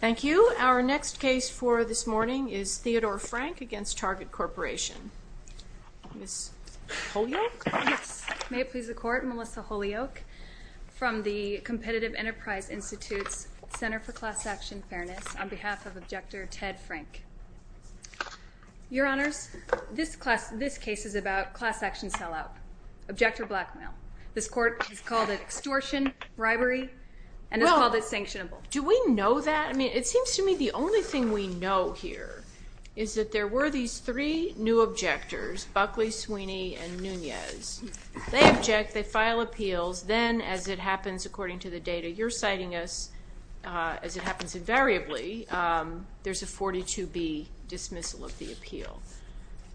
Thank you. Our next case for this morning is Theodore Frank v. Target Corporation. Ms. Holyoak? Yes. May it please the Court, Melissa Holyoak from the Competitive Enterprise Institute's Center for Class Action Fairness on behalf of Objector Ted Frank. Your Honors, this case is about class action sellout, objector blackmail. This Court has called it extortion, bribery, and has called it sanctionable. Well, do we know that? I mean, it seems to me the only thing we know here is that there were these three new objectors, Buckley, Sweeney, and Nunez. They object, they file appeals, then as it happens, according to the data you're citing us, as it happens invariably, there's a 42B dismissal of the appeal.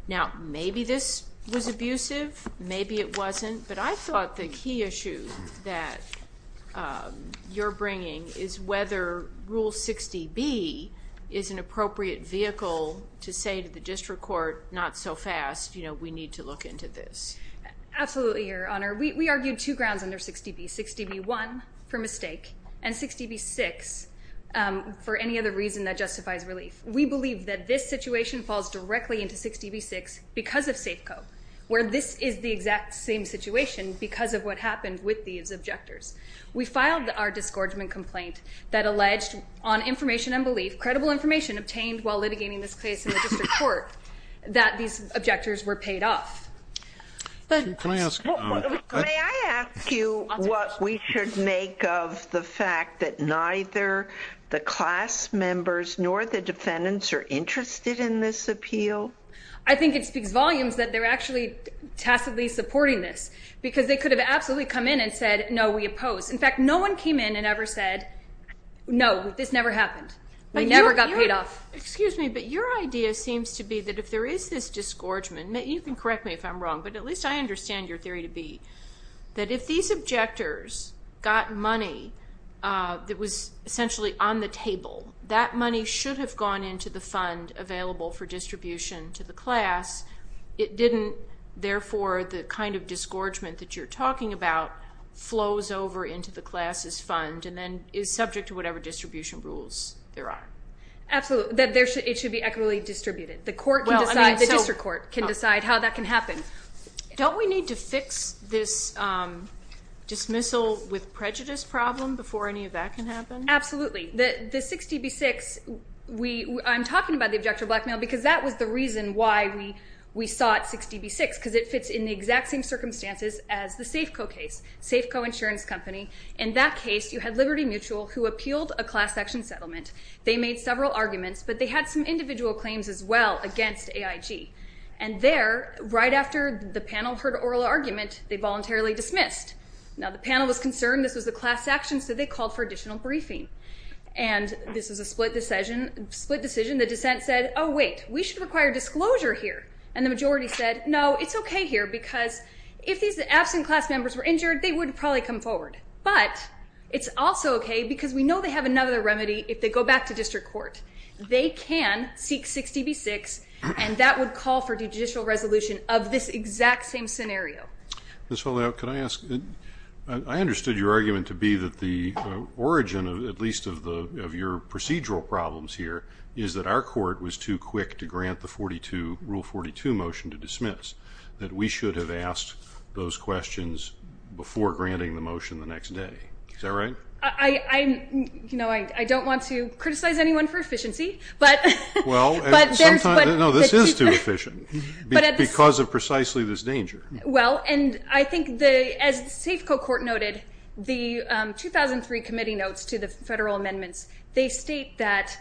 Now, maybe this was abusive, maybe it wasn't, but I thought the key issue that you're bringing is whether Rule 60B is an appropriate vehicle to say to the District Court, not so fast, you know, we need to look into this. Absolutely, Your Honor. We argued two grounds under 60B. 60B-1 for mistake, and 60B-6 for any other reason that justifies relief. We believe that this situation falls directly into 60B-6 because of Safeco, where this is the exact same situation because of what happened with these objectors. We filed our disgorgement complaint that alleged on information and belief, credible information obtained while litigating this case in the District Court, that these objectors were paid off. May I ask you what we should make of the fact that neither the class members nor the defendants are interested in this appeal? I think it speaks volumes that they're actually tacitly supporting this because they could have absolutely come in and said, no, we oppose. In fact, no one came in and ever said, no, this never happened. We never got paid off. Excuse me, but your idea seems to be that if there is this disgorgement, you can correct me if I'm wrong, but at least I understand your theory to be that if these objectors got money that was essentially on the table, that money should have gone into the fund available for distribution to the class. It didn't. Therefore, the kind of disgorgement that you're talking about flows over into the class's fund and then is subject to whatever distribution rules there are. Absolutely. It should be equitably distributed. The District Court can decide how that can happen. Don't we need to fix this dismissal with prejudice problem before any of that can happen? Absolutely. The 6db6, I'm talking about the objective blackmail because that was the reason why we sought 6db6 because it fits in the exact same circumstances as the Safeco case, Safeco Insurance Company. In that case, you had Liberty Mutual who appealed a class action settlement. They made several arguments, but they had some individual claims as well against AIG. And there, right after the panel heard oral argument, they voluntarily dismissed. Now, the panel was concerned this was a class action, so they called for additional briefing. And this was a split decision. The dissent said, oh, wait, we should require disclosure here. And the majority said, no, it's okay here because if these absent class members were injured, they would probably come forward. But it's also okay because we know they have another remedy if they go back to District Court. They can seek 6db6, and that would call for judicial resolution of this exact same scenario. Ms. Feldhaube, could I ask? I understood your argument to be that the origin, at least of your procedural problems here, is that our court was too quick to grant the Rule 42 motion to dismiss, that we should have asked those questions before granting the motion the next day. Is that right? I don't want to criticize anyone for efficiency. No, this is too efficient because of precisely this danger. Well, and I think as Safeco Court noted, the 2003 committee notes to the federal amendments, they state that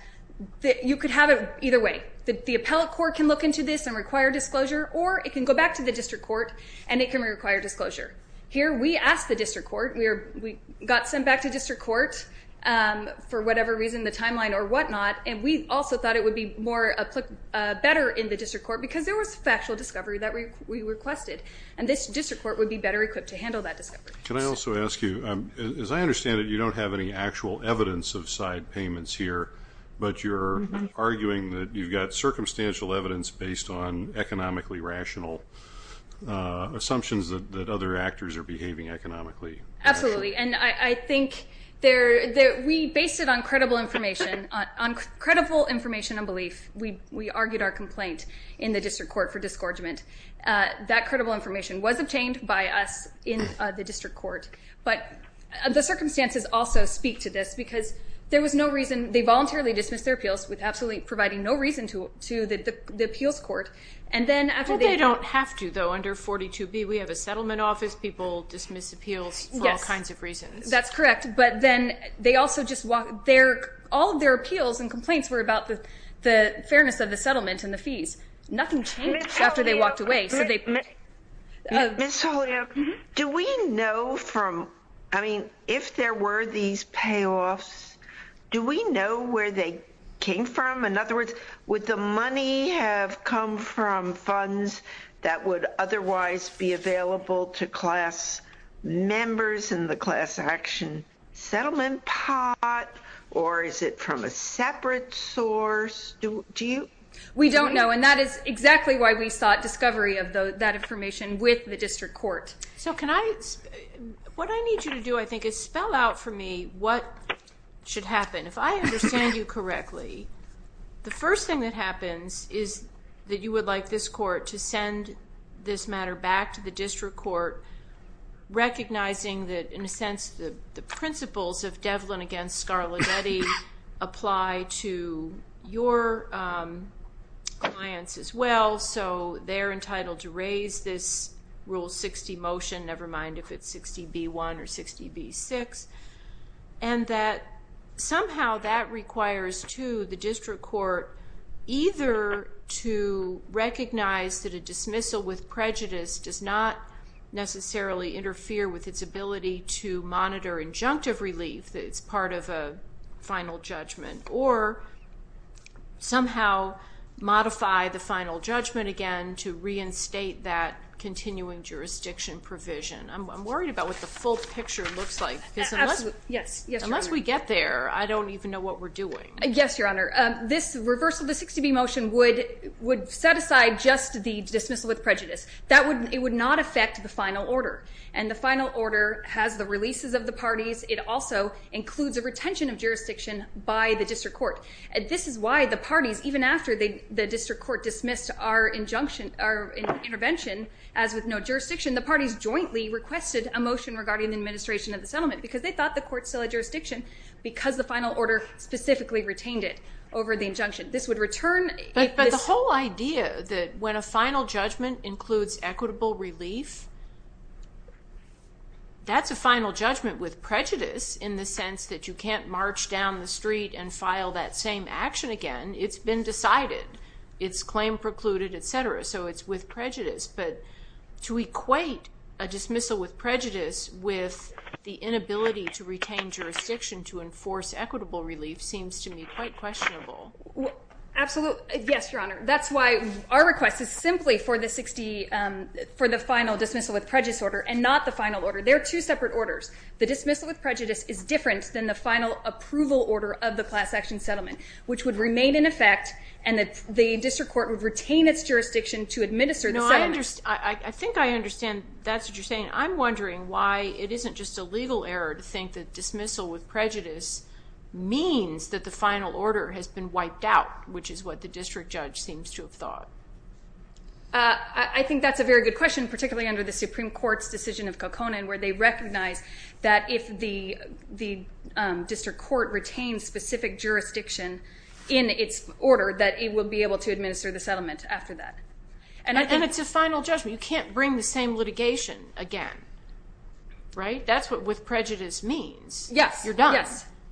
you could have it either way. The appellate court can look into this and require disclosure, or it can go back to the District Court and it can require disclosure. Here, we asked the District Court. We got sent back to District Court for whatever reason, the timeline or whatnot, and we also thought it would be better in the District Court because there was factual discovery that we requested. And this District Court would be better equipped to handle that discovery. Can I also ask you, as I understand it, you don't have any actual evidence of side payments here, but you're arguing that you've got circumstantial evidence based on economically rational assumptions that other actors are behaving economically. Absolutely, and I think we based it on credible information, on credible information and belief. We argued our complaint in the District Court for disgorgement. That credible information was obtained by us in the District Court, but the circumstances also speak to this because there was no reason. They voluntarily dismissed their appeals with absolutely providing no reason to the appeals court. Well, they don't have to, though. Under 42B, we have a settlement office. People dismiss appeals for all kinds of reasons. Yes, that's correct, but then they also just walk. All of their appeals and complaints were about the fairness of the settlement and the fees. Nothing changed after they walked away. Ms. Holyoak, do we know from, I mean, if there were these payoffs, do we know where they came from? In other words, would the money have come from funds that would otherwise be available to class members in the class action settlement pot, or is it from a separate source? We don't know, and that is exactly why we sought discovery of that information with the District Court. So what I need you to do, I think, is spell out for me what should happen. If I understand you correctly, the first thing that happens is that you would like this court to send this matter back to the District Court, recognizing that, in a sense, the principles of Devlin v. Scarlanetti apply to your clients as well, so they're entitled to raise this Rule 60 motion, never mind if it's 60B1 or 60B6, and that somehow that requires, too, the District Court either to recognize that a dismissal with prejudice does not necessarily interfere with its ability to monitor injunctive relief, that it's part of a final judgment, or somehow modify the final judgment again to reinstate that continuing jurisdiction provision. I'm worried about what the full picture looks like because unless we get there, I don't even know what we're doing. Yes, Your Honor. This reversal of the 60B motion would set aside just the dismissal with prejudice. It would not affect the final order, and the final order has the releases of the parties. It also includes a retention of jurisdiction by the District Court. This is why the parties, even after the District Court dismissed our intervention as with no jurisdiction, the parties jointly requested a motion regarding the administration of the settlement because they thought the court still had jurisdiction because the final order specifically retained it over the injunction. But the whole idea that when a final judgment includes equitable relief, that's a final judgment with prejudice in the sense that you can't march down the street and file that same action again. It's been decided. It's claim precluded, et cetera, so it's with prejudice. But to equate a dismissal with prejudice with the inability to retain jurisdiction to enforce equitable relief seems to me quite questionable. Absolutely. Yes, Your Honor. That's why our request is simply for the final dismissal with prejudice order and not the final order. They're two separate orders. The dismissal with prejudice is different than the final approval order of the class action settlement, which would remain in effect, and the District Court would retain its jurisdiction to administer the settlement. No, I think I understand. That's what you're saying. I'm wondering why it isn't just a legal error to think that dismissal with prejudice means that the final order has been wiped out, which is what the District Judge seems to have thought. I think that's a very good question, particularly under the Supreme Court's decision of Kokkonen, where they recognize that if the District Court retains specific jurisdiction in its order, that it will be able to administer the settlement after that. And it's a final judgment. You can't bring the same litigation again, right? That's what with prejudice means. Yes. You're done.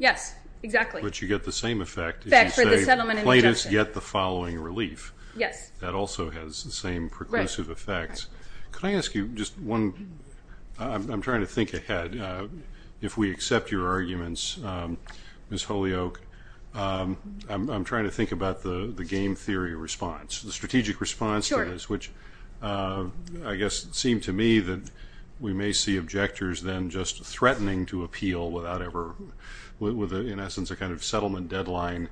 Yes, exactly. But you get the same effect if you say plaintiffs get the following relief. Yes. That also has the same preclusive effects. Could I ask you just one? I'm trying to think ahead. If we accept your arguments, Ms. Holyoake, I'm trying to think about the game theory response. The strategic response to this, which I guess seemed to me that we may see objectors then just threatening to appeal without ever with, in essence, a kind of settlement deadline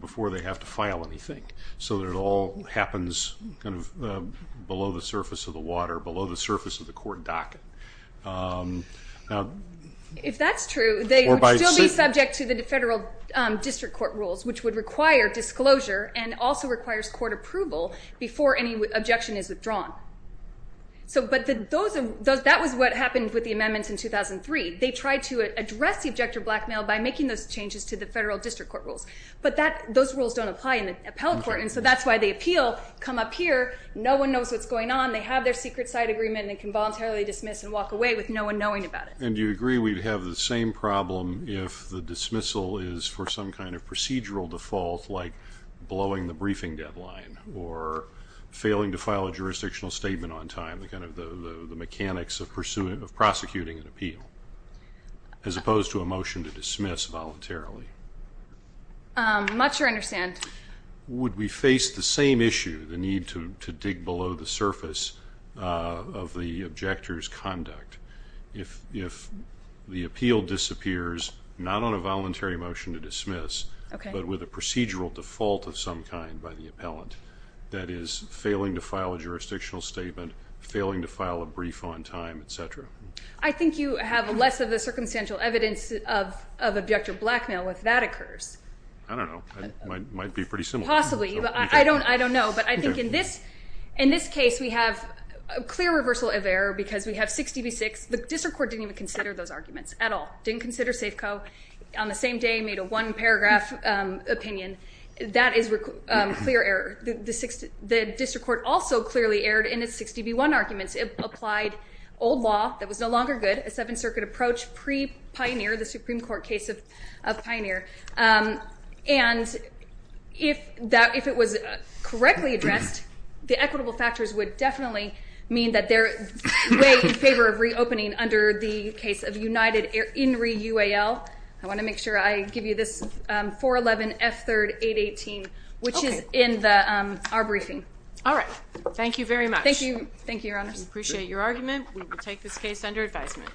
before they have to file anything, so that it all happens kind of below the surface of the water, below the surface of the court docket. If that's true, they would still be subject to the federal district court rules, which would require disclosure and also requires court approval before any objection is withdrawn. But that was what happened with the amendments in 2003. They tried to address the objector blackmail by making those changes to the federal district court rules. But those rules don't apply in the appellate court, and so that's why they appeal, come up here, no one knows what's going on, they have their secret side agreement, and they can voluntarily dismiss and walk away with no one knowing about it. And do you agree we'd have the same problem if the dismissal is for some kind of procedural default, like blowing the briefing deadline or failing to file a jurisdictional statement on time, the mechanics of prosecuting an appeal, as opposed to a motion to dismiss voluntarily? I'm not sure I understand. Would we face the same issue, the need to dig below the surface of the objector's conduct, if the appeal disappears not on a voluntary motion to dismiss, but with a procedural default of some kind by the appellant that is failing to file a jurisdictional statement, failing to file a brief on time, et cetera? I think you have less of the circumstantial evidence of objector blackmail if that occurs. I don't know. It might be pretty similar. Possibly. I don't know. But I think in this case, we have a clear reversal of error because we have 6dB6. The district court didn't even consider those arguments at all, didn't consider Safeco. On the same day, made a one-paragraph opinion. That is clear error. The district court also clearly erred in its 6dB1 arguments. It applied old law that was no longer good, a Seventh Circuit approach pre-Pioneer, the Supreme Court case of Pioneer. And if it was correctly addressed, the equitable factors would definitely mean that they're in favor of reopening under the case of United In Re UAL. I want to make sure I give you this, 411 F3 818, which is in our briefing. All right. Thank you very much. Thank you, Your Honors. We appreciate your argument. We will take this case under advisement.